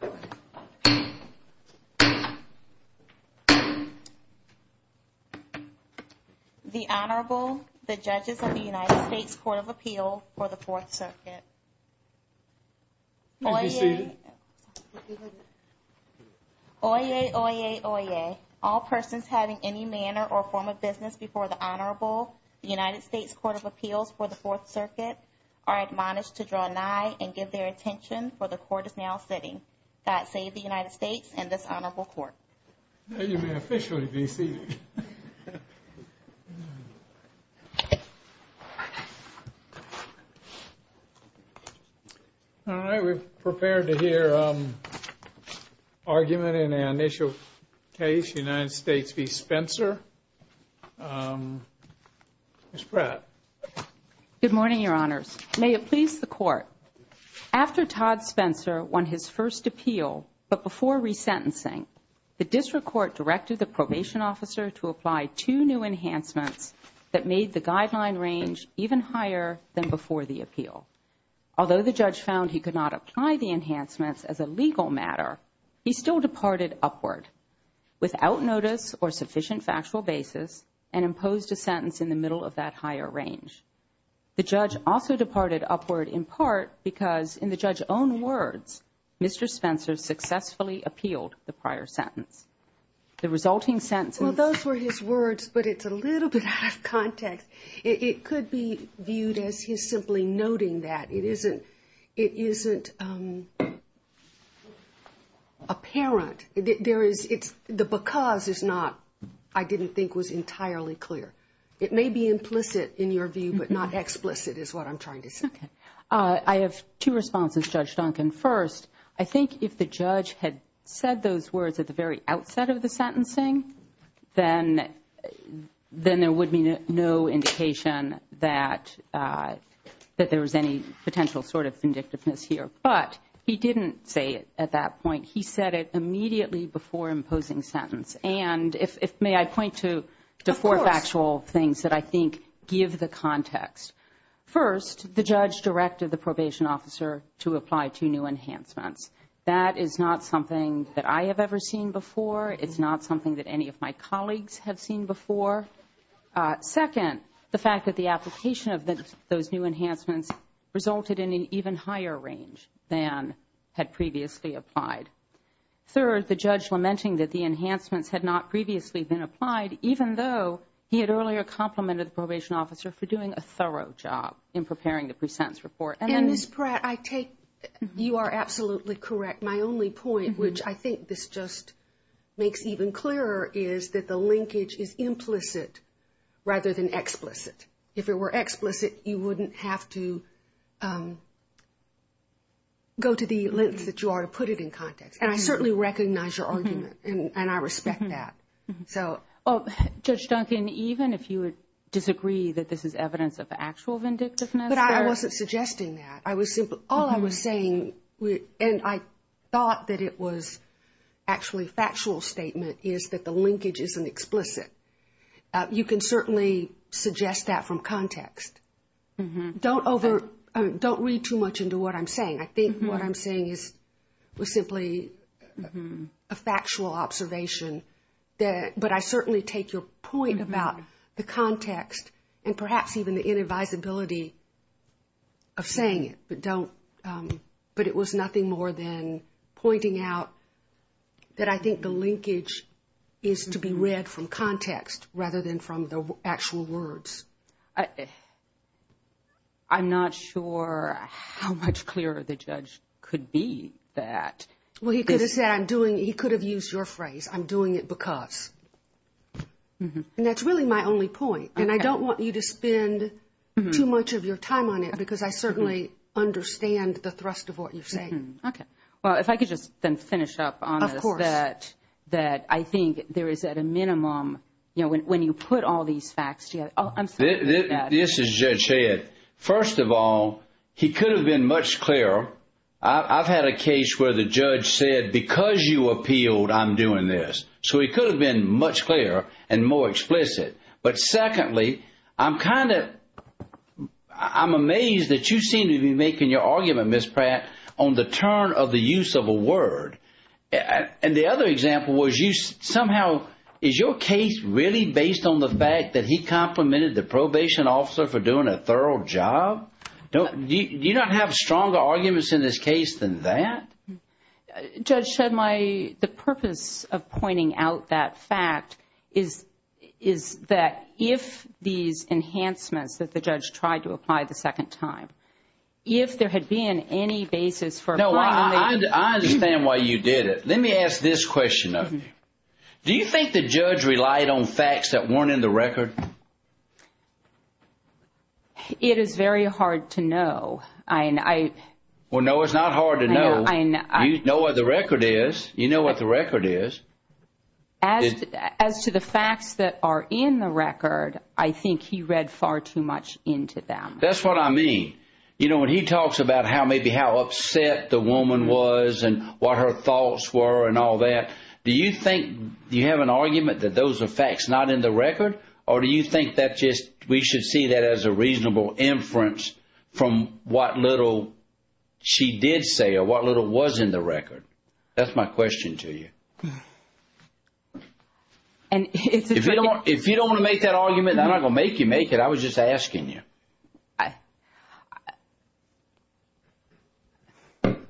The Honorable, the Judges of the United States Court of Appeal for the Fourth Circuit. Oyez, oyez, oyez. All persons having any manner or form of business before the Honorable, the United States Court of Appeals for the Fourth Circuit, are admonished to draw nigh and give their attention, for the Court is now sitting. That saved the United States and this Honorable Court. You may officially be seated. All right, we're prepared to hear argument in an initial case, United States v. Spencer. Ms. Pratt. Good morning, Your Honors. May it please the Court. After Todd Spencer won his first appeal, but before resentencing, the district court directed the probation officer to apply two new enhancements that made the guideline range even higher than before the appeal. Although the judge found he could not apply the enhancements as a legal matter, he still departed upward, without notice or sufficient factual basis, and imposed a sentence in the middle of that higher range. The judge also departed upward in part because, in the judge's own words, Mr. Spencer successfully appealed the prior sentence. The resulting sentence Well, those were his words, but it's a little bit out of context. It could be viewed as his simply noting that. It isn't apparent. The because is not, I didn't think, was entirely clear. It may be implicit in your view, but not explicit is what I'm trying to say. Okay. I have two responses, Judge Duncan. First, I think if the judge had said those words at the very outset of the sentencing, then there would be no indication that there was any potential sort of vindictiveness here. But he didn't say it at that point. He said it immediately before imposing sentence. And may I point to four factual things that I think give the context. First, the judge directed the probation officer to apply two new enhancements. That is not something that I have ever seen before. It's not something that any of my colleagues have seen before. Second, the fact that the application of those new enhancements resulted in an even higher range than had previously applied. Third, the judge lamenting that the enhancements had not previously been applied, even though he had earlier complimented the probation officer for doing a thorough job in preparing the pre-sentence report. Ms. Pratt, I take you are absolutely correct. My only point, which I think this just makes even clearer, is that the linkage is implicit rather than explicit. If it were explicit, you wouldn't have to go to the lengths that you are to put it in context. And I certainly recognize your argument. And I respect that. Judge Duncan, even if you would disagree that this is evidence of actual vindictiveness? But I wasn't suggesting that. All I was saying, and I thought that it was actually a factual statement, is that the linkage isn't explicit. You can certainly suggest that from context. Don't read too much into what I'm saying. I think what I'm saying was simply a factual observation. But I certainly take your point about the context and perhaps even the inadvisability of saying it. But it was nothing more than pointing out that I think the linkage is to be read from context rather than from the actual words. I'm not sure how much clearer the judge could be that. Well, he could have said I'm doing it. He could have used your phrase, I'm doing it because. And that's really my only point. And I don't want you to spend too much of your time on it because I certainly understand the thrust of what you're saying. Okay. Well, if I could just then finish up on this. Of course. That I think there is at a minimum, you know, when you put all these facts together. This is Judge Head. First of all, he could have been much clearer. I've had a case where the judge said because you appealed, I'm doing this. So he could have been much clearer and more explicit. But secondly, I'm kind of, I'm amazed that you seem to be making your argument, Ms. Pratt, on the turn of the use of a word. And the other example was you somehow, is your case really based on the fact that he complimented the probation officer for doing a thorough job? Do you not have stronger arguments in this case than that? Judge Shedley, the purpose of pointing out that fact is that if these enhancements that the judge tried to apply the second time, if there had been any basis for applying. No, I understand why you did it. Let me ask this question of you. Do you think the judge relied on facts that weren't in the record? It is very hard to know. Well, no, it's not hard to know. You know what the record is. You know what the record is. As to the facts that are in the record, I think he read far too much into them. That's what I mean. You know, when he talks about how maybe how upset the woman was and what her thoughts were and all that, do you think you have an argument that those are facts not in the record? Or do you think that just we should see that as a reasonable inference from what little she did say or what little was in the record? That's my question to you. If you don't want to make that argument, I'm not going to make you make it. I was just asking you.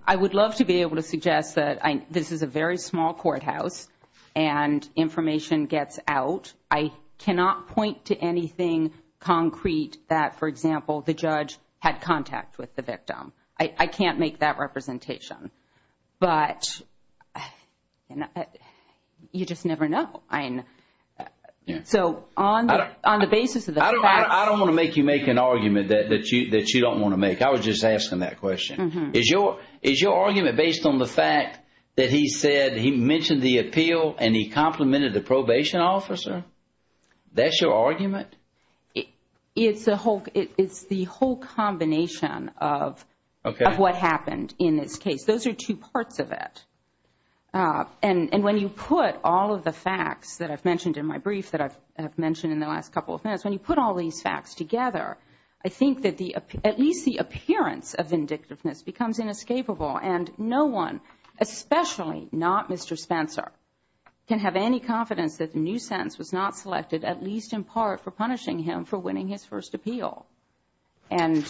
I would love to be able to suggest that this is a very small courthouse and information gets out. I cannot point to anything concrete that, for example, the judge had contact with the victim. I can't make that representation. But you just never know. So on the basis of the facts. I don't want to make you make an argument that you don't want to make. I was just asking that question. Is your argument based on the fact that he said he mentioned the appeal and he complimented the probation officer? That's your argument? It's the whole combination of what happened in this case. Those are two parts of it. And when you put all of the facts that I've mentioned in my brief that I've mentioned in the last couple of minutes, when you put all these facts together, I think that at least the appearance of vindictiveness becomes inescapable, and no one, especially not Mr. Spencer, can have any confidence that the new sentence was not selected, at least in part, for punishing him for winning his first appeal. And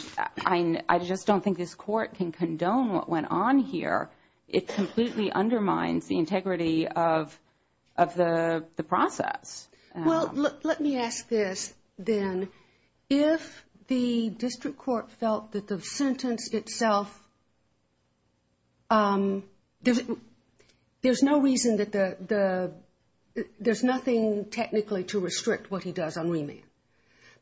I just don't think this Court can condone what went on here. It completely undermines the integrity of the process. Well, let me ask this then. If the district court felt that the sentence itself, there's no reason that there's nothing technically to restrict what he does on remand,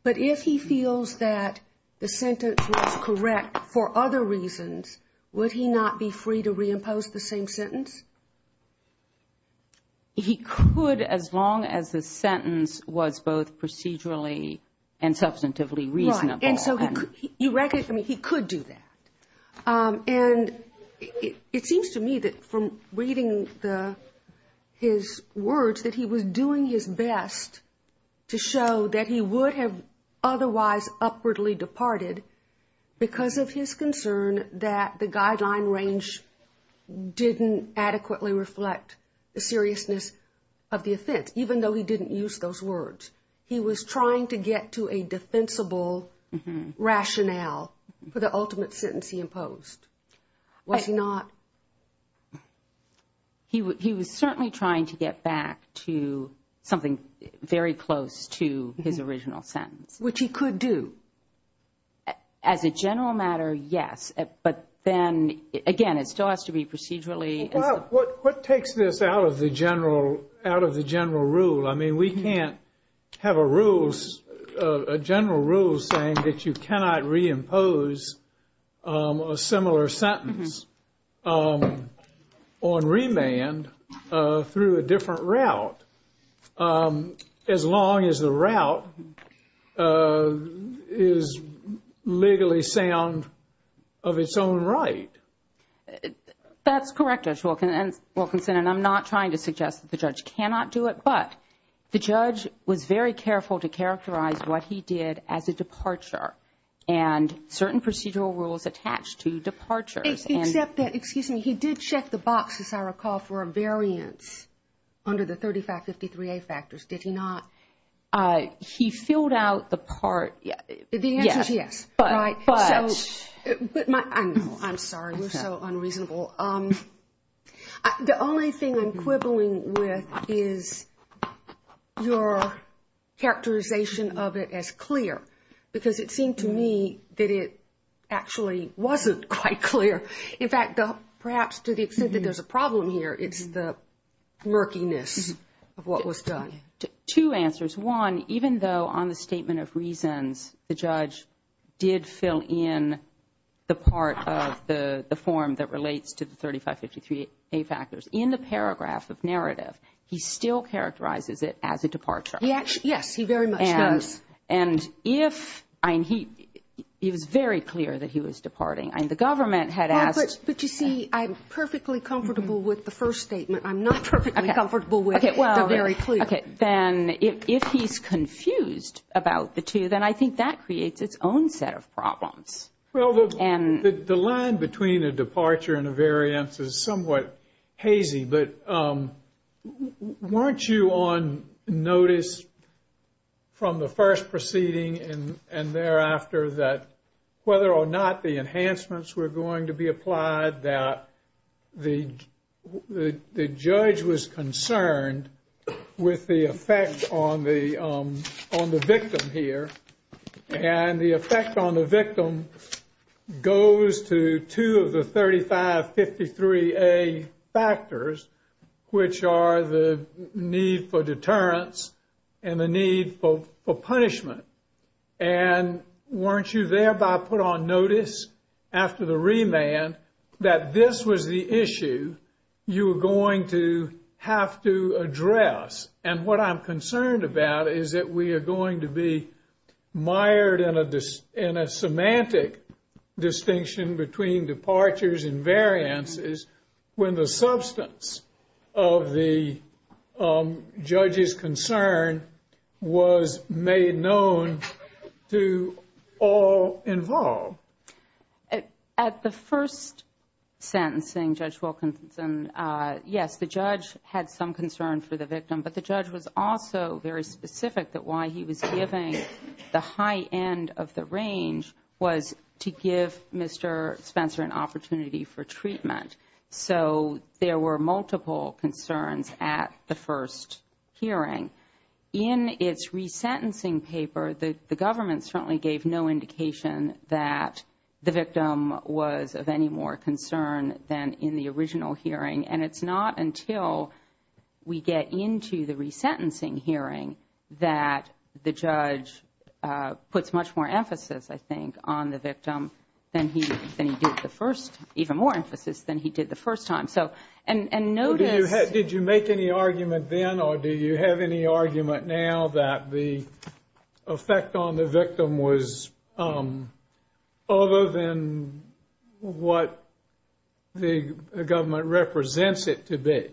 but if he feels that the sentence was correct for other reasons, would he not be free to reimpose the same sentence? He could as long as the sentence was both procedurally and substantively reasonable. Right. And so you recognize, I mean, he could do that. And it seems to me that from reading his words that he was doing his best to show that he would have otherwise upwardly departed because of his concern that the guideline range didn't adequately reflect the seriousness of the offense, even though he didn't use those words. He was trying to get to a defensible rationale for the ultimate sentence he imposed. Was he not? He was certainly trying to get back to something very close to his original sentence. Which he could do. As a general matter, yes. But then again, it still has to be procedurally. What takes this out of the general rule? I mean, we can't have a general rule saying that you cannot reimpose a similar sentence on remand through a different route. As long as the route is legally sound of its own right. That's correct, Judge Wilkinson, and I'm not trying to suggest that the judge cannot do it. But the judge was very careful to characterize what he did as a departure and certain procedural rules attached to departures. Except that, excuse me, he did check the boxes, as I recall, for a variance under the 3553A factors. Did he not? He filled out the part. The answer is yes. But. I know. I'm sorry. You're so unreasonable. The only thing I'm quibbling with is your characterization of it as clear. Because it seemed to me that it actually wasn't quite clear. In fact, perhaps to the extent that there's a problem here, it's the murkiness of what was done. Two answers. One, even though on the statement of reasons the judge did fill in the part of the form that relates to the 3553A factors, in the paragraph of narrative, he still characterizes it as a departure. Yes, he very much does. And if, I mean, he was very clear that he was departing. I mean, the government had asked. But you see, I'm perfectly comfortable with the first statement. I'm not perfectly comfortable with the very clear. Okay. Then if he's confused about the two, then I think that creates its own set of problems. Well, the line between a departure and a variance is somewhat hazy. But weren't you on notice from the first proceeding and thereafter that whether or not the enhancements were going to be applied, that the judge was concerned with the effect on the victim here. And the effect on the victim goes to two of the 3553A factors, which are the need for deterrence and the need for punishment. And weren't you thereby put on notice after the remand that this was the issue you were going to have to address? And what I'm concerned about is that we are going to be mired in a semantic distinction between departures and variances when the substance of the judge's concern was made known to all involved. At the first sentencing, Judge Wilkinson, yes, the judge had some concern for the victim. But the judge was also very specific that why he was giving the high end of the range was to give Mr. Spencer an opportunity for treatment. So there were multiple concerns at the first hearing. In its resentencing paper, the government certainly gave no indication that the victim was of any more concern than in the original hearing. And it's not until we get into the resentencing hearing that the judge puts much more emphasis, I think, on the victim than he did the first, even more emphasis than he did the first time. Did you make any argument then or do you have any argument now that the effect on the victim was other than what the government represents it to be?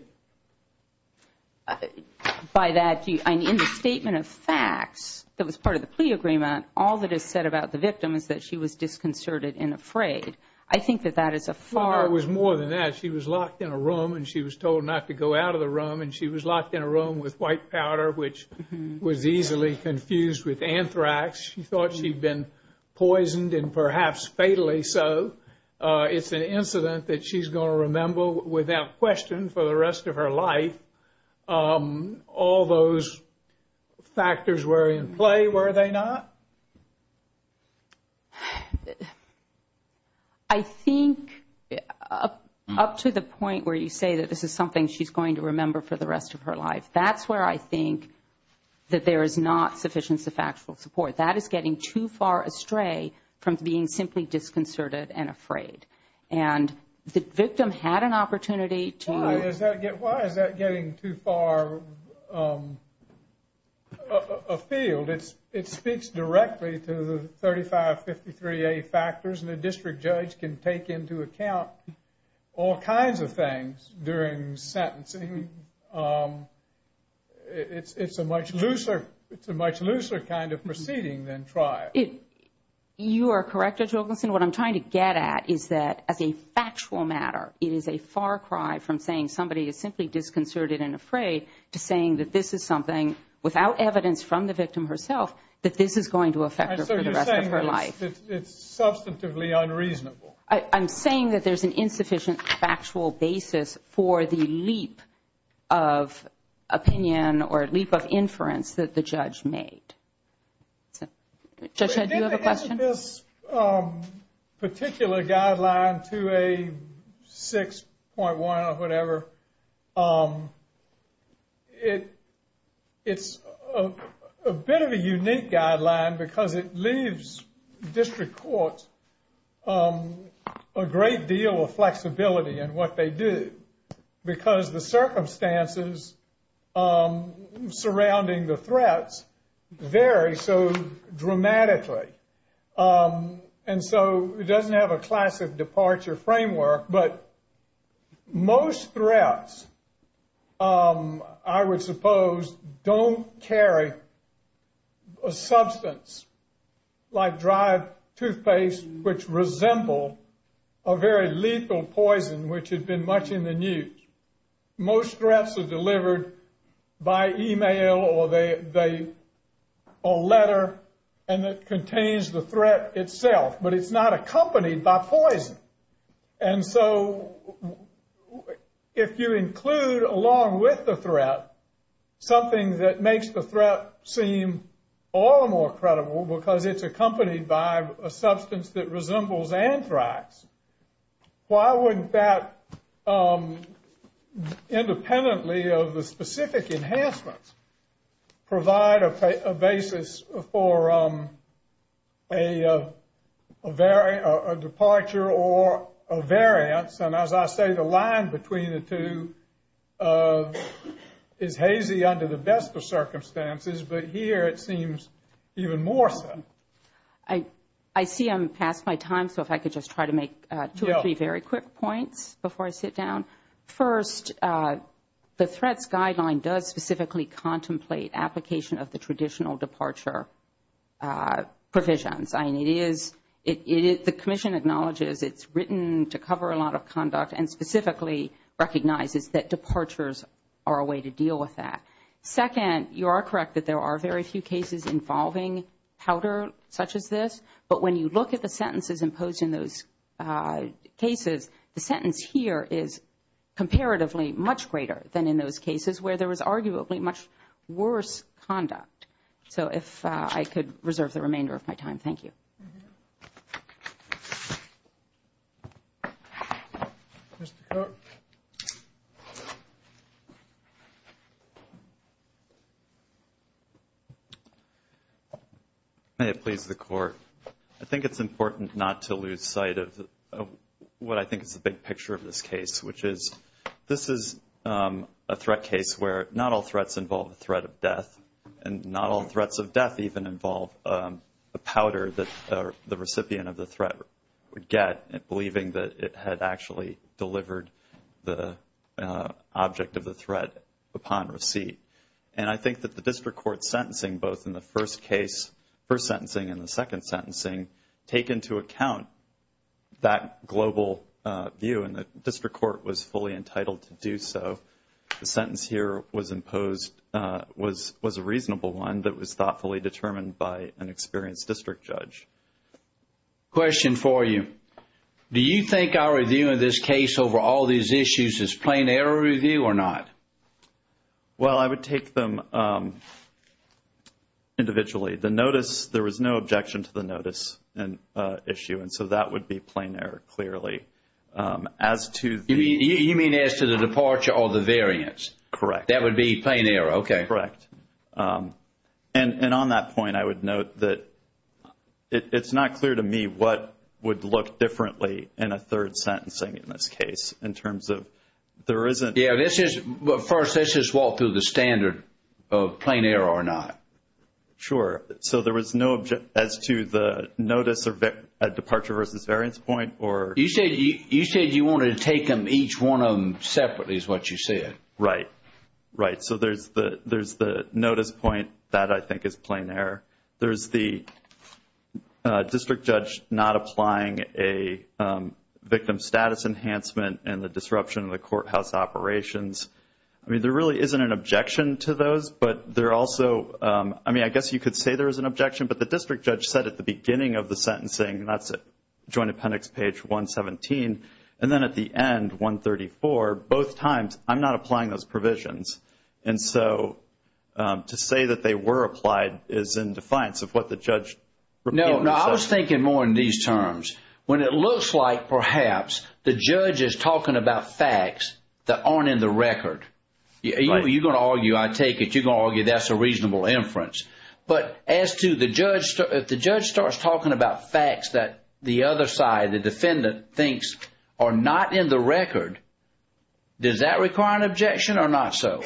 By that, in the statement of facts that was part of the plea agreement, all that is said about the victim is that she was disconcerted and afraid. I think that that is a far... It was more than that. She was locked in a room and she was told not to go out of the room. And she was locked in a room with white powder, which was easily confused with anthrax. She thought she'd been poisoned and perhaps fatally so. It's an incident that she's going to remember without question for the rest of her life. All those factors were in play, were they not? I think up to the point where you say that this is something she's going to remember for the rest of her life, that's where I think that there is not sufficient factual support. That is getting too far astray from being simply disconcerted and afraid. And the victim had an opportunity to... Why is that getting too far afield? It speaks directly to the 3553A factors. And a district judge can take into account all kinds of things during sentencing. It's a much looser kind of proceeding than trial. You are correct, Judge Wilkinson. What I'm trying to get at is that as a factual matter, it is a far cry from saying somebody is simply disconcerted and afraid to saying that this is something, without evidence from the victim herself, that this is going to affect her for the rest of her life. So you're saying it's substantively unreasonable. I'm saying that there's an insufficient factual basis for the leap of opinion or leap of inference that the judge made. Judge, do you have a question? This particular guideline, 2A6.1 or whatever, it's a bit of a unique guideline because it leaves district courts a great deal of flexibility in what they do. Because the circumstances surrounding the threats vary so dramatically. And so it doesn't have a classic departure framework, but most threats, I would suppose, don't carry a substance like dried toothpaste, which resemble a very lethal poison which had been much in the news. Most threats are delivered by email or letter, and it contains the threat itself, but it's not accompanied by poison. And so if you include, along with the threat, something that makes the threat seem all the more credible because it's accompanied by a substance that resembles anthrax, why wouldn't that, independently of the specific enhancements, provide a basis for a departure or a variance? And as I say, the line between the two is hazy under the best of circumstances, but here it seems even more so. I see I'm past my time, so if I could just try to make two or three very quick points before I sit down. First, the threats guideline does specifically contemplate application of the traditional departure provisions. The Commission acknowledges it's written to cover a lot of conduct and specifically recognizes that departures are a way to deal with that. Second, you are correct that there are very few cases involving powder such as this, but when you look at the sentences imposed in those cases, the sentence here is comparatively much greater than in those cases where there was arguably much worse conduct. So if I could reserve the remainder of my time, thank you. Thank you. Mr. Kirk? May it please the Court. I think it's important not to lose sight of what I think is the big picture of this case, which is this is a threat case where not all threats involve the threat of death, and not all threats of death even involve the powder that the recipient of the threat would get, believing that it had actually delivered the object of the threat upon receipt. And I think that the district court sentencing, both in the first case, first sentencing and the second sentencing, take into account that global view and the district court was fully entitled to do so. The sentence here was a reasonable one that was thoughtfully determined by an experienced district judge. Question for you. Do you think our review of this case over all these issues is plain error review or not? Well, I would take them individually. The notice, there was no objection to the notice issue, and so that would be plain error, clearly. You mean as to the departure or the variance? Correct. That would be plain error. Okay. Correct. And on that point, I would note that it's not clear to me what would look differently in a third sentencing in this case. First, let's just walk through the standard of plain error or not. Sure. So there was no objection as to the notice or departure versus variance point? You said you wanted to take them, each one of them separately is what you said. Right. Right. So there's the notice point. That, I think, is plain error. There's the district judge not applying a victim status enhancement and the disruption of the courthouse operations. I mean, there really isn't an objection to those, but there also, I mean, I guess you could say there is an objection, but the district judge said at the beginning of the sentencing, and that's Joint Appendix page 117, and then at the end, 134, both times, I'm not applying those provisions. And so to say that they were applied is in defiance of what the judge repeatedly said. No, I was thinking more in these terms. When it looks like, perhaps, the judge is talking about facts that aren't in the record. You're going to argue, I take it, you're going to argue that's a reasonable inference. But as to the judge, if the judge starts talking about facts that the other side, the defendant, thinks are not in the record, does that require an objection or not so?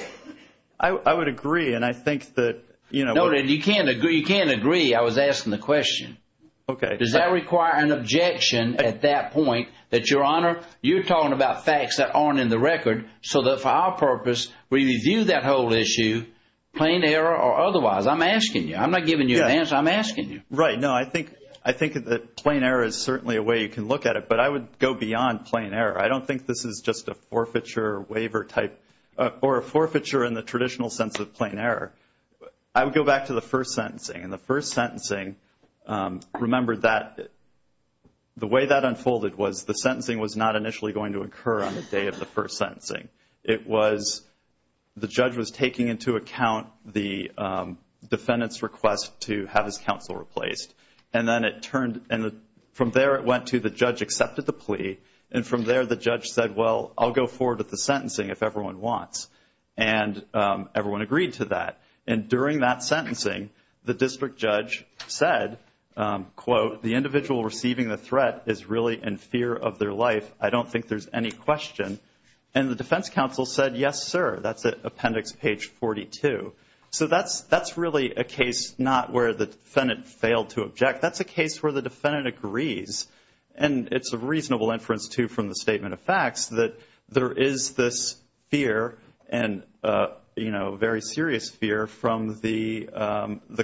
I would agree, and I think that, you know. No, you can't agree. You can't agree. I was asking the question. Okay. Does that require an objection at that point that, Your Honor, you're talking about facts that aren't in the record, so that for our purpose, we review that whole issue, plain error or otherwise? I'm asking you. I'm not giving you an answer. I'm asking you. Right. No, I think that plain error is certainly a way you can look at it, but I would go beyond plain error. I don't think this is just a forfeiture waiver type or a forfeiture in the traditional sense of plain error. I would go back to the first sentencing, and the first sentencing, remember, the way that unfolded was the sentencing was not initially going to occur on the day of the first sentencing. It was the judge was taking into account the defendant's request to have his counsel replaced, and then it turned, and from there it went to the judge accepted the plea, and from there the judge said, well, I'll go forward with the sentencing if everyone wants, and everyone agreed to that. And during that sentencing, the district judge said, quote, the individual receiving the threat is really in fear of their life. I don't think there's any question. And the defense counsel said, yes, sir. That's at appendix page 42. So that's really a case not where the defendant failed to object. That's a case where the defendant agrees, and it's a reasonable inference, too, from the statement of facts that there is this fear and, you know, very serious fear from the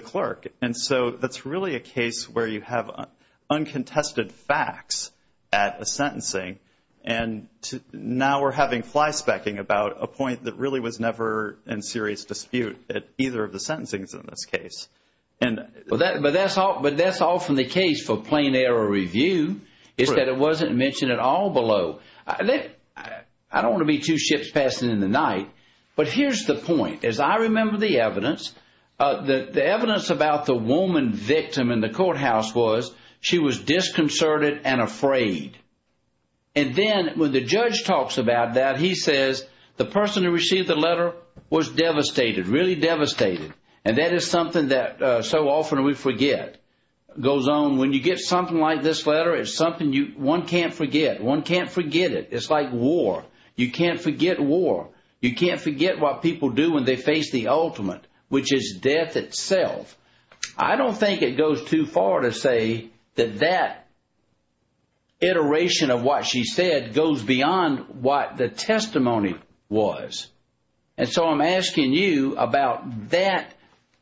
clerk. And so that's really a case where you have uncontested facts at a sentencing, and now we're having flyspecking about a point that really was never in serious dispute at either of the sentencings in this case. But that's often the case for plain error review is that it wasn't mentioned at all below. I don't want to be two ships passing in the night, but here's the point. As I remember the evidence, the evidence about the woman victim in the courthouse was she was disconcerted and afraid. And then when the judge talks about that, he says the person who received the letter was devastated, really devastated, and that is something that so often we forget. It goes on. When you get something like this letter, it's something one can't forget. One can't forget it. It's like war. You can't forget war. You can't forget what people do when they face the ultimate, which is death itself. I don't think it goes too far to say that that iteration of what she said goes beyond what the testimony was. And so I'm asking you about that,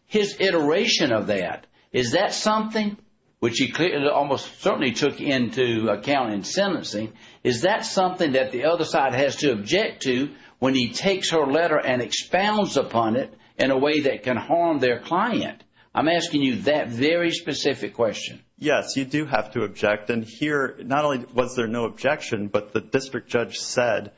his iteration of that. Is that something, which he almost certainly took into account in sentencing, is that something that the other side has to object to when he takes her letter and expounds upon it in a way that can harm their client? I'm asking you that very specific question. Yes, you do have to object. And here, not only was there no objection, but the district judge said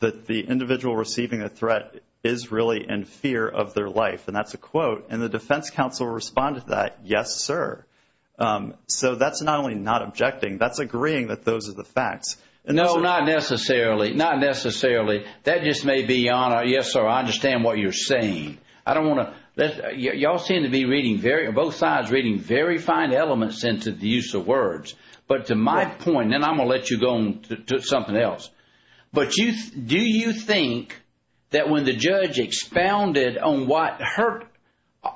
that the individual receiving a threat is really in fear of their life. And that's a quote. And the defense counsel responded to that, yes, sir. So that's not only not objecting, that's agreeing that those are the facts. No, not necessarily. Not necessarily. That just may be, yes, sir, I understand what you're saying. Y'all seem to be reading very, both sides reading very fine elements into the use of words. But to my point, and I'm going to let you go on to something else. But do you think that when the judge expounded on what hurt,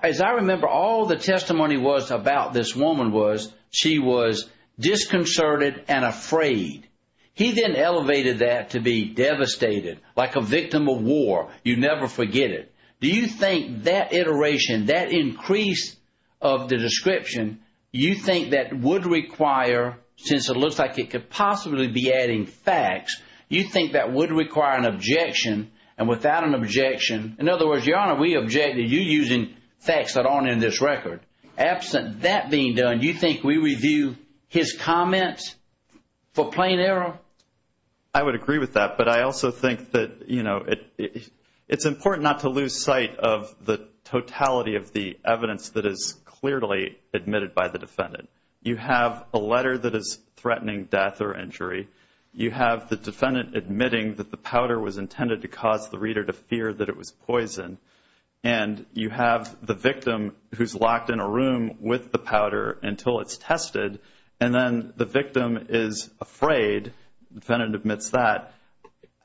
as I remember, all the testimony was about this woman was she was disconcerted and afraid. He then elevated that to be devastated, like a victim of war. You never forget it. Do you think that iteration, that increase of the description, you think that would require, since it looks like it could possibly be adding facts, you think that would require an objection? And without an objection, in other words, Your Honor, we object to you using facts that aren't in this record. Absent that being done, you think we review his comments for plain error? I would agree with that. But I also think that, you know, it's important not to lose sight of the totality of the evidence that is clearly admitted by the defendant. You have a letter that is threatening death or injury. You have the defendant admitting that the powder was intended to cause the reader to fear that it was poison. And you have the victim who's locked in a room with the powder until it's tested. And then the victim is afraid. The defendant admits that.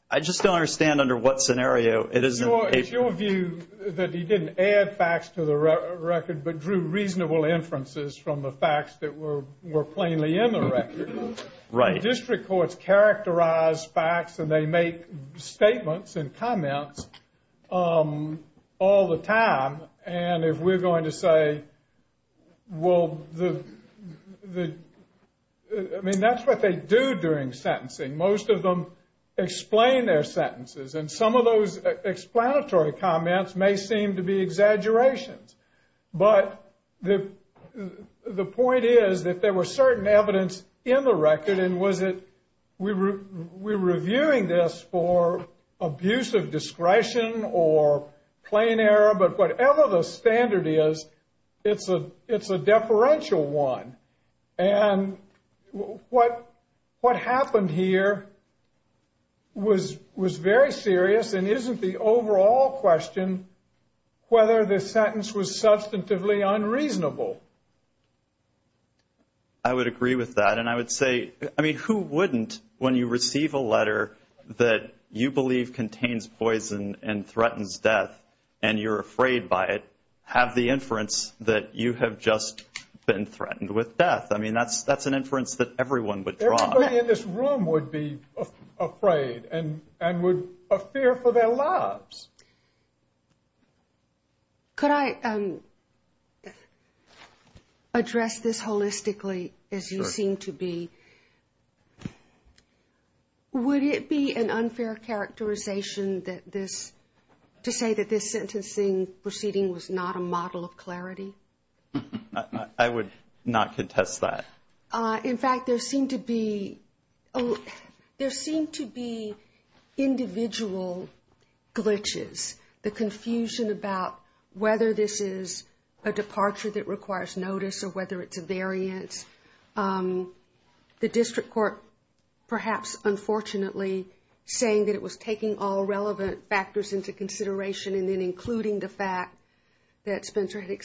I just don't understand under what scenario it is in the case. It's your view that he didn't add facts to the record but drew reasonable inferences from the facts that were plainly in the record. Right. District courts characterize facts and they make statements and comments all the time. And if we're going to say, well, I mean, that's what they do during sentencing. Most of them explain their sentences. And some of those explanatory comments may seem to be exaggerations. But the point is that there was certain evidence in the record. We're reviewing this for abuse of discretion or plain error, but whatever the standard is, it's a deferential one. And what happened here was very serious and isn't the overall question whether the sentence was substantively unreasonable. I would agree with that. And I would say, I mean, who wouldn't, when you receive a letter that you believe contains poison and threatens death and you're afraid by it, have the inference that you have just been threatened with death? I mean, that's an inference that everyone would draw. Everybody in this room would be afraid and would fear for their lives. Could I address this holistically, as you seem to be? Would it be an unfair characterization to say that this sentencing proceeding was not a model of clarity? I would not contest that. In fact, there seem to be individual glitches. The confusion about whether this is a departure that requires notice or whether it's a variance. The district court perhaps, unfortunately, saying that it was taking all relevant factors into consideration and then including the fact that Spencer had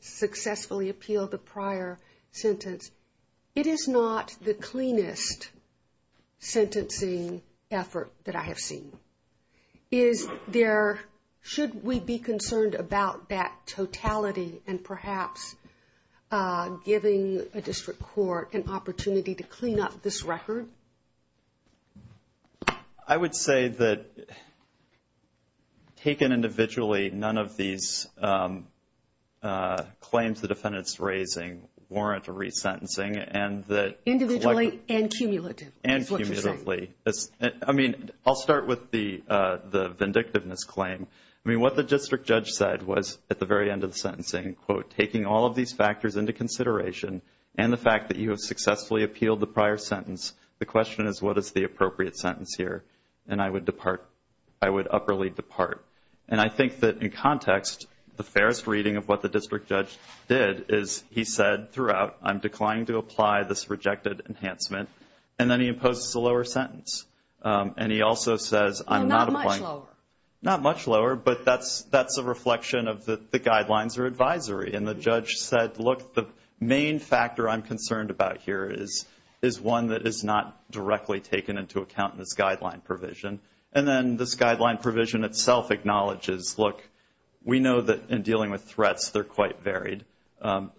successfully appealed the prior sentence. It is not the cleanest sentencing effort that I have seen. Should we be concerned about that totality and perhaps giving a district court an opportunity to clean up this record? I would say that, taken individually, none of these claims the defendant's raising warrant a resentencing. Individually and cumulatively, is what you're saying. I mean, I'll start with the vindictiveness claim. I mean, what the district judge said was, at the very end of the sentencing, quote, taking all of these factors into consideration and the fact that you have successfully appealed the prior sentence. The question is, what is the appropriate sentence here? And I would upperly depart. And I think that in context, the fairest reading of what the district judge did is he said throughout, I'm declining to apply this rejected enhancement, and then he imposes a lower sentence. And he also says I'm not applying. Well, not much lower. Not much lower, but that's a reflection of the guidelines or advisory. And the judge said, look, the main factor I'm concerned about here is one that is not directly taken into account in this guideline provision. And then this guideline provision itself acknowledges, look, we know that in dealing with threats, they're quite varied.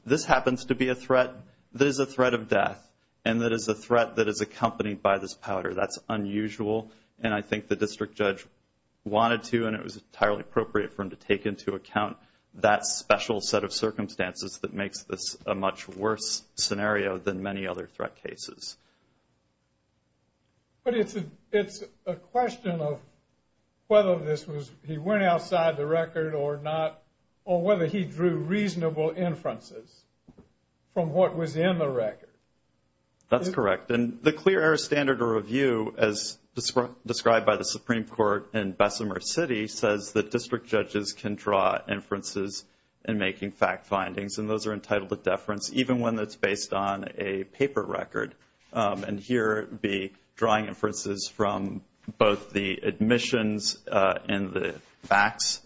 This happens to be a threat that is a threat of death, and that is a threat that is accompanied by this powder. That's unusual, and I think the district judge wanted to, and it was entirely appropriate for him to take into account that special set of circumstances that makes this a much worse scenario than many other threat cases. But it's a question of whether this was, he went outside the record or not, or whether he drew reasonable inferences from what was in the record. That's correct. And the Clear Error Standard Review, as described by the Supreme Court in Bessemer City, says that district judges can draw inferences in making fact findings, and those are entitled to deference, even when it's based on a paper record. And here it would be drawing inferences from both the admissions and the facts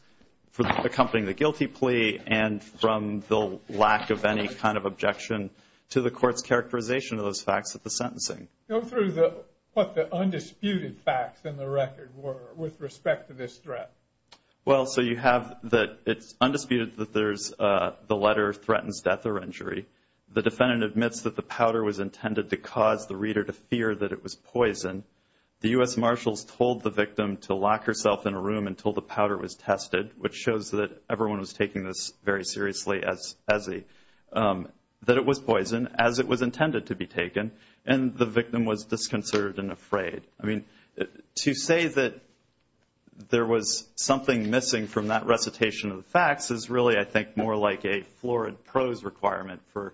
for accompanying the guilty plea, and from the lack of any kind of objection to the court's characterization of those facts at the sentencing. Go through what the undisputed facts in the record were with respect to this threat. Well, so you have that it's undisputed that the letter threatens death or injury. The defendant admits that the powder was intended to cause the reader to fear that it was poison. The U.S. Marshals told the victim to lock herself in a room until the powder was tested, which shows that everyone was taking this very seriously, that it was poison, as it was intended to be taken, and the victim was disconcerted and afraid. I mean, to say that there was something missing from that recitation of the facts is really, I think, more like a florid prose requirement for,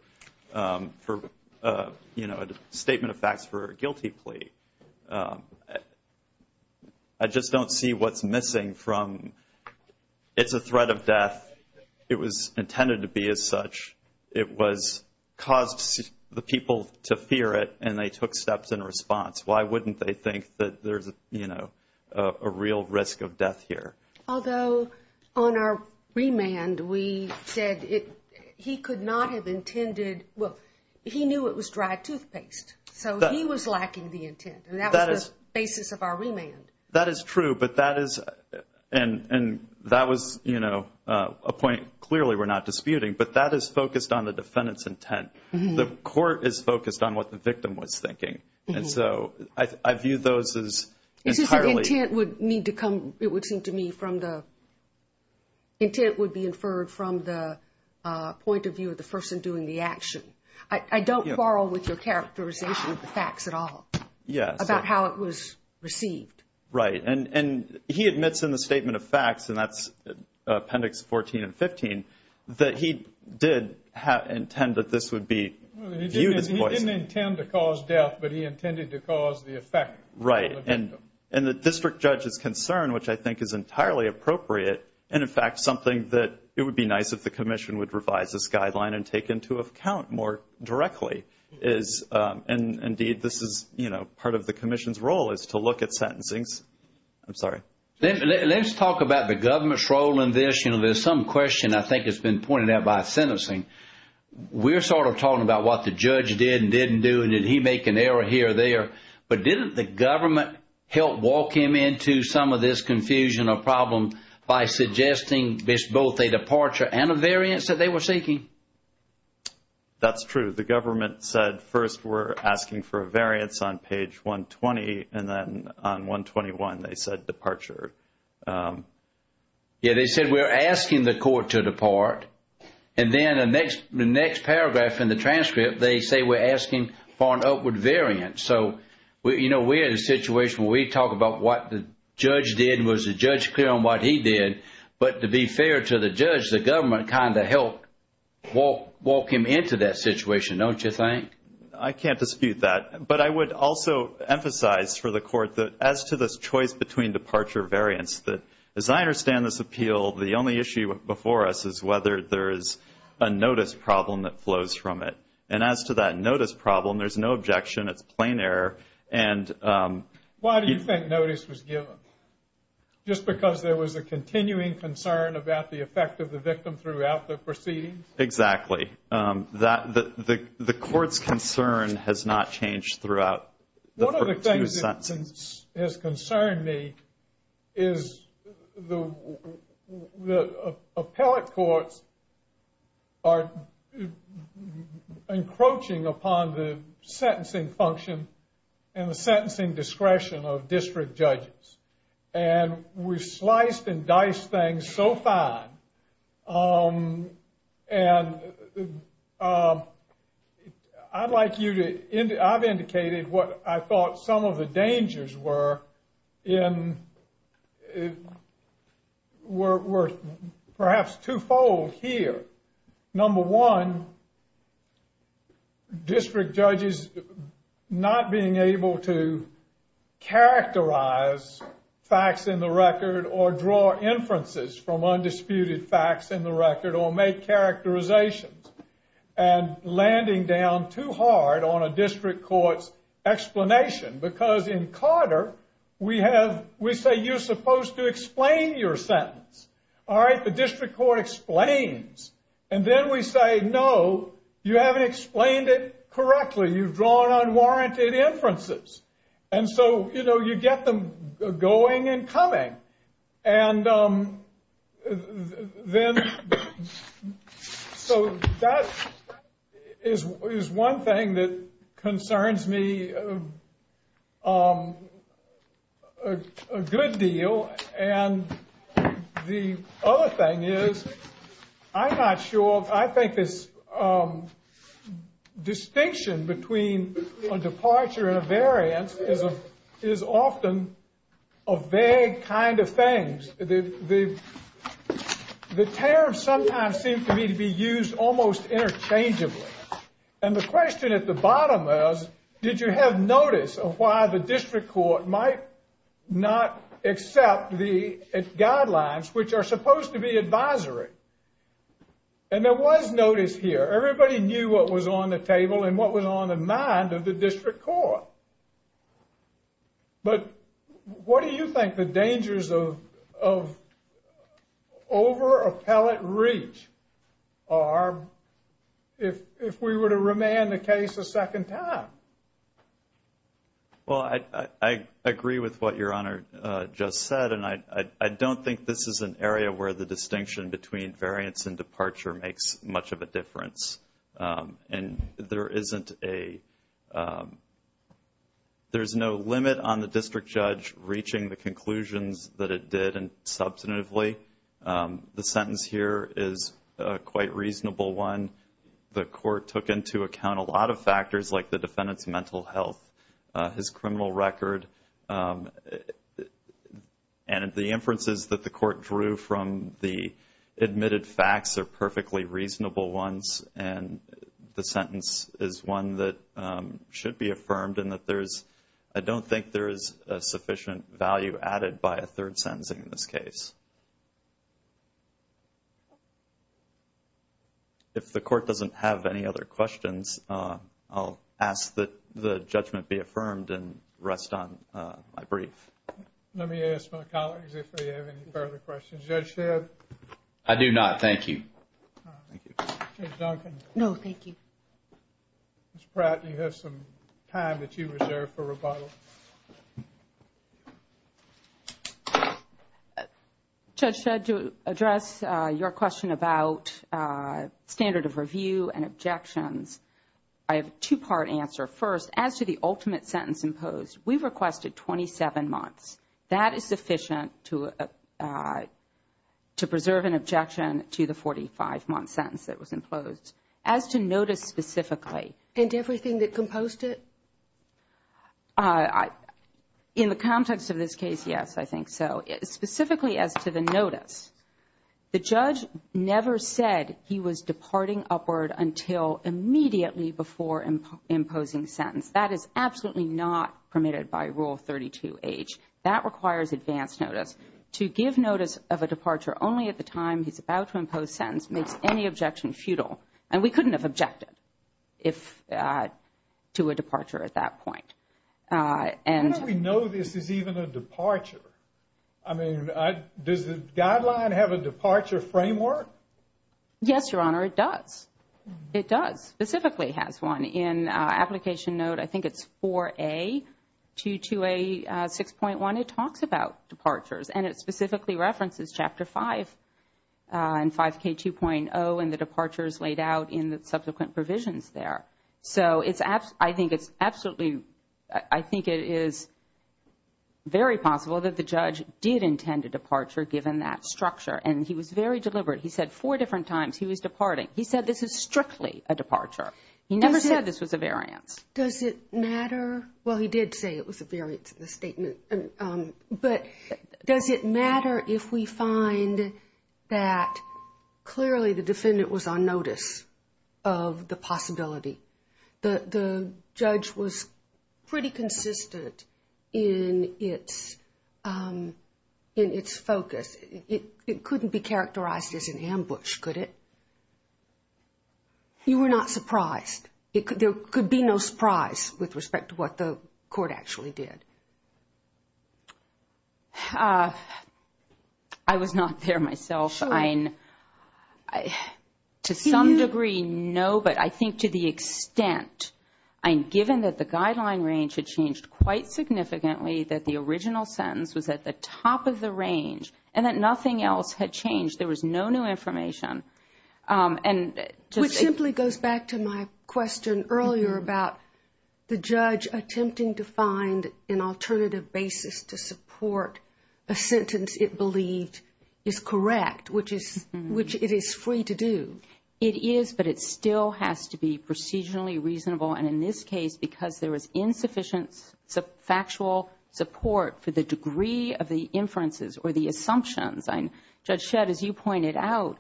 you know, a statement of facts for a guilty plea. I just don't see what's missing from it's a threat of death. It was intended to be as such. It caused the people to fear it, and they took steps in response. Why wouldn't they think that there's, you know, a real risk of death here? Although on our remand, we said he could not have intended, well, he knew it was dry toothpaste, so he was lacking the intent, and that was the basis of our remand. That is true, but that is, and that was, you know, a point clearly we're not disputing, but that is focused on the defendant's intent. The court is focused on what the victim was thinking, and so I view those as entirely. It's just the intent would need to come, it would seem to me, from the, intent would be inferred from the point of view of the person doing the action. I don't quarrel with your characterization of the facts at all about how it was received. Right, and he admits in the statement of facts, and that's Appendix 14 and 15, that he did intend that this would be viewed as poison. He didn't intend to cause death, but he intended to cause the effect on the victim. Right, and the district judge's concern, which I think is entirely appropriate, and in fact something that it would be nice if the commission would revise this guideline and take into account more directly is, and indeed this is, you know, part of the commission's role is to look at sentencings. I'm sorry. Let's talk about the government's role in this. You know, there's some question I think has been pointed out by sentencing. We're sort of talking about what the judge did and didn't do, and did he make an error here or there, but didn't the government help walk him into some of this confusion or problem by suggesting both a departure and a variance that they were seeking? That's true. The government said first we're asking for a variance on page 120, and then on 121 they said departure. Yeah, they said we're asking the court to depart, and then the next paragraph in the transcript they say we're asking for an upward variance. So, you know, we're in a situation where we talk about what the judge did, was the judge clear on what he did, but to be fair to the judge, the government kind of helped walk him into that situation, don't you think? I can't dispute that. But I would also emphasize for the court that as to this choice between departure and variance, as I understand this appeal, the only issue before us is whether there is a notice problem that flows from it. And as to that notice problem, there's no objection. It's plain error. Why do you think notice was given? Just because there was a continuing concern about the effect of the victim throughout the proceedings? Exactly. The court's concern has not changed throughout the first two sentences. One of the things that has concerned me is the appellate courts are encroaching upon the sentencing function and the sentencing discretion of district judges. And we've sliced and diced things so fine. And I'd like you to, I've indicated what I thought some of the dangers were in, were perhaps twofold here. Number one, district judges not being able to characterize facts in the record or draw inferences from undisputed facts in the record or make characterizations and landing down too hard on a district court's explanation. Because in Carter, we have, we say you're supposed to explain your sentence. All right, the district court explains. And then we say, no, you haven't explained it correctly. You've drawn unwarranted inferences. And so, you know, you get them going and coming. And then, so that is one thing that concerns me a good deal. And the other thing is, I'm not sure. I think this distinction between a departure and a variance is often a vague kind of thing. The terms sometimes seem to me to be used almost interchangeably. And the question at the bottom is, did you have notice of why the district court might not accept the guidelines, which are supposed to be advisory? And there was notice here. Everybody knew what was on the table and what was on the mind of the district court. But what do you think the dangers of over-appellate reach are if we were to remand the case a second time? Well, I agree with what Your Honor just said. And I don't think this is an area where the distinction between variance and departure makes much of a difference. And there isn't a – there's no limit on the district judge reaching the conclusions that it did substantively. The sentence here is a quite reasonable one. The court took into account a lot of factors like the defendant's mental health, his criminal record. And the inferences that the court drew from the admitted facts are perfectly reasonable ones. And the sentence is one that should be affirmed in that there is – I don't think there is a sufficient value added by a third sentencing in this case. If the court doesn't have any other questions, I'll ask that the judgment be affirmed and rest on my brief. Let me ask my colleagues if they have any further questions. Judge Shedd? I do not. Thank you. Thank you. Judge Duncan? No, thank you. Ms. Pratt, you have some time that you reserve for rebuttal. Thank you. Judge Shedd, to address your question about standard of review and objections, I have a two-part answer. First, as to the ultimate sentence imposed, we requested 27 months. That is sufficient to preserve an objection to the 45-month sentence that was imposed. As to notice specifically. And everything that composed it? In the context of this case, yes, I think so. Specifically as to the notice, the judge never said he was departing upward until immediately before imposing sentence. That is absolutely not permitted by Rule 32H. That requires advance notice. To give notice of a departure only at the time he's about to impose sentence makes any objection futile. And we couldn't have objected to a departure at that point. How do we know this is even a departure? I mean, does the guideline have a departure framework? Yes, Your Honor, it does. It does. Specifically has one. In application note, I think it's 4A to 2A 6.1. It talks about departures. And it specifically references Chapter 5 and 5K 2.0 and the departures laid out in the subsequent provisions there. So I think it's absolutely, I think it is very possible that the judge did intend a departure given that structure. And he was very deliberate. He said four different times he was departing. He said this is strictly a departure. He never said this was a variance. Does it matter? Well, he did say it was a variance in the statement. But does it matter if we find that clearly the defendant was on notice of the possibility? The judge was pretty consistent in its focus. It couldn't be characterized as an ambush, could it? You were not surprised. There could be no surprise with respect to what the court actually did. I was not there myself. To some degree, no. But I think to the extent, given that the guideline range had changed quite significantly, that the original sentence was at the top of the range and that nothing else had changed, there was no new information. Which simply goes back to my question earlier about the judge attempting to find an alternative basis to support a sentence it believed is correct, which it is free to do. It is, but it still has to be procedurally reasonable. And in this case, because there was insufficient factual support for the degree of the inferences or the assumptions, Judge Shedd, as you pointed out,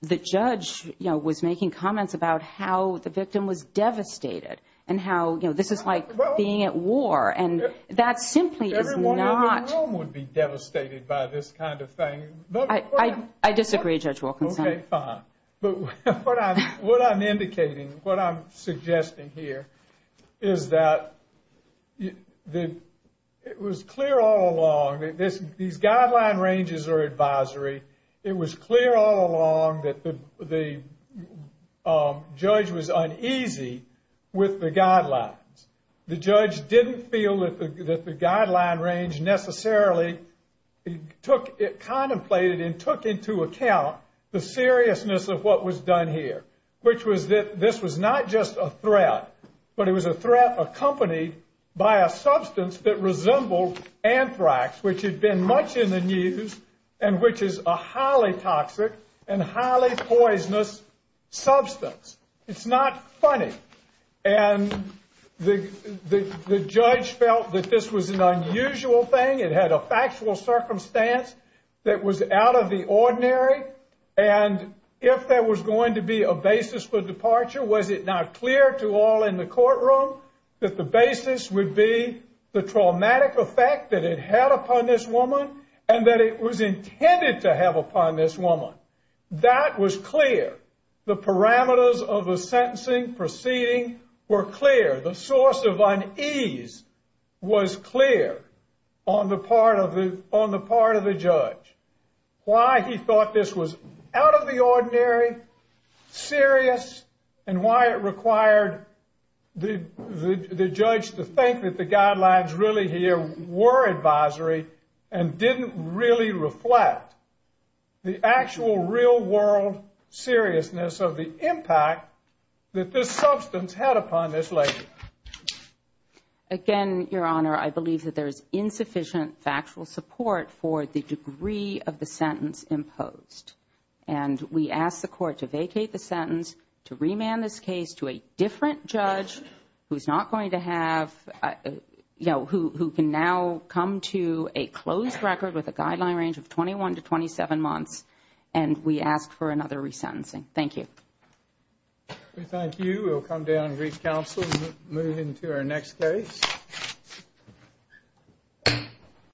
the judge was making comments about how the victim was devastated and how this is like being at war. And that simply is not – Everyone living at home would be devastated by this kind of thing. I disagree, Judge Wilkinson. Okay, fine. But what I'm indicating, what I'm suggesting here is that it was clear all along that these guideline ranges are advisory. It was clear all along that the judge was uneasy with the guidelines. The judge didn't feel that the guideline range necessarily contemplated and took into account the seriousness of what was done here, which was that this was not just a threat, but it was a threat accompanied by a substance that resembled anthrax, which had been much in the news and which is a highly toxic and highly poisonous substance. It's not funny. And the judge felt that this was an unusual thing. It had a factual circumstance that was out of the ordinary. And if there was going to be a basis for departure, was it not clear to all in the courtroom that the basis would be the traumatic effect that it had upon this woman and that it was intended to have upon this woman? That was clear. The parameters of the sentencing proceeding were clear. The source of unease was clear on the part of the judge. Why he thought this was out of the ordinary, serious, and why it required the judge to think that the guidelines really here were advisory and didn't really reflect the actual real-world seriousness of the impact that this substance had upon this lady. Again, Your Honor, I believe that there is insufficient factual support for the degree of the sentence imposed. And we ask the court to vacate the sentence, to remand this case to a different judge who can now come to a closed record with a guideline range of 21 to 27 months, and we ask for another resentencing. Thank you. We thank you. We will come down and re-counsel and move into our next case.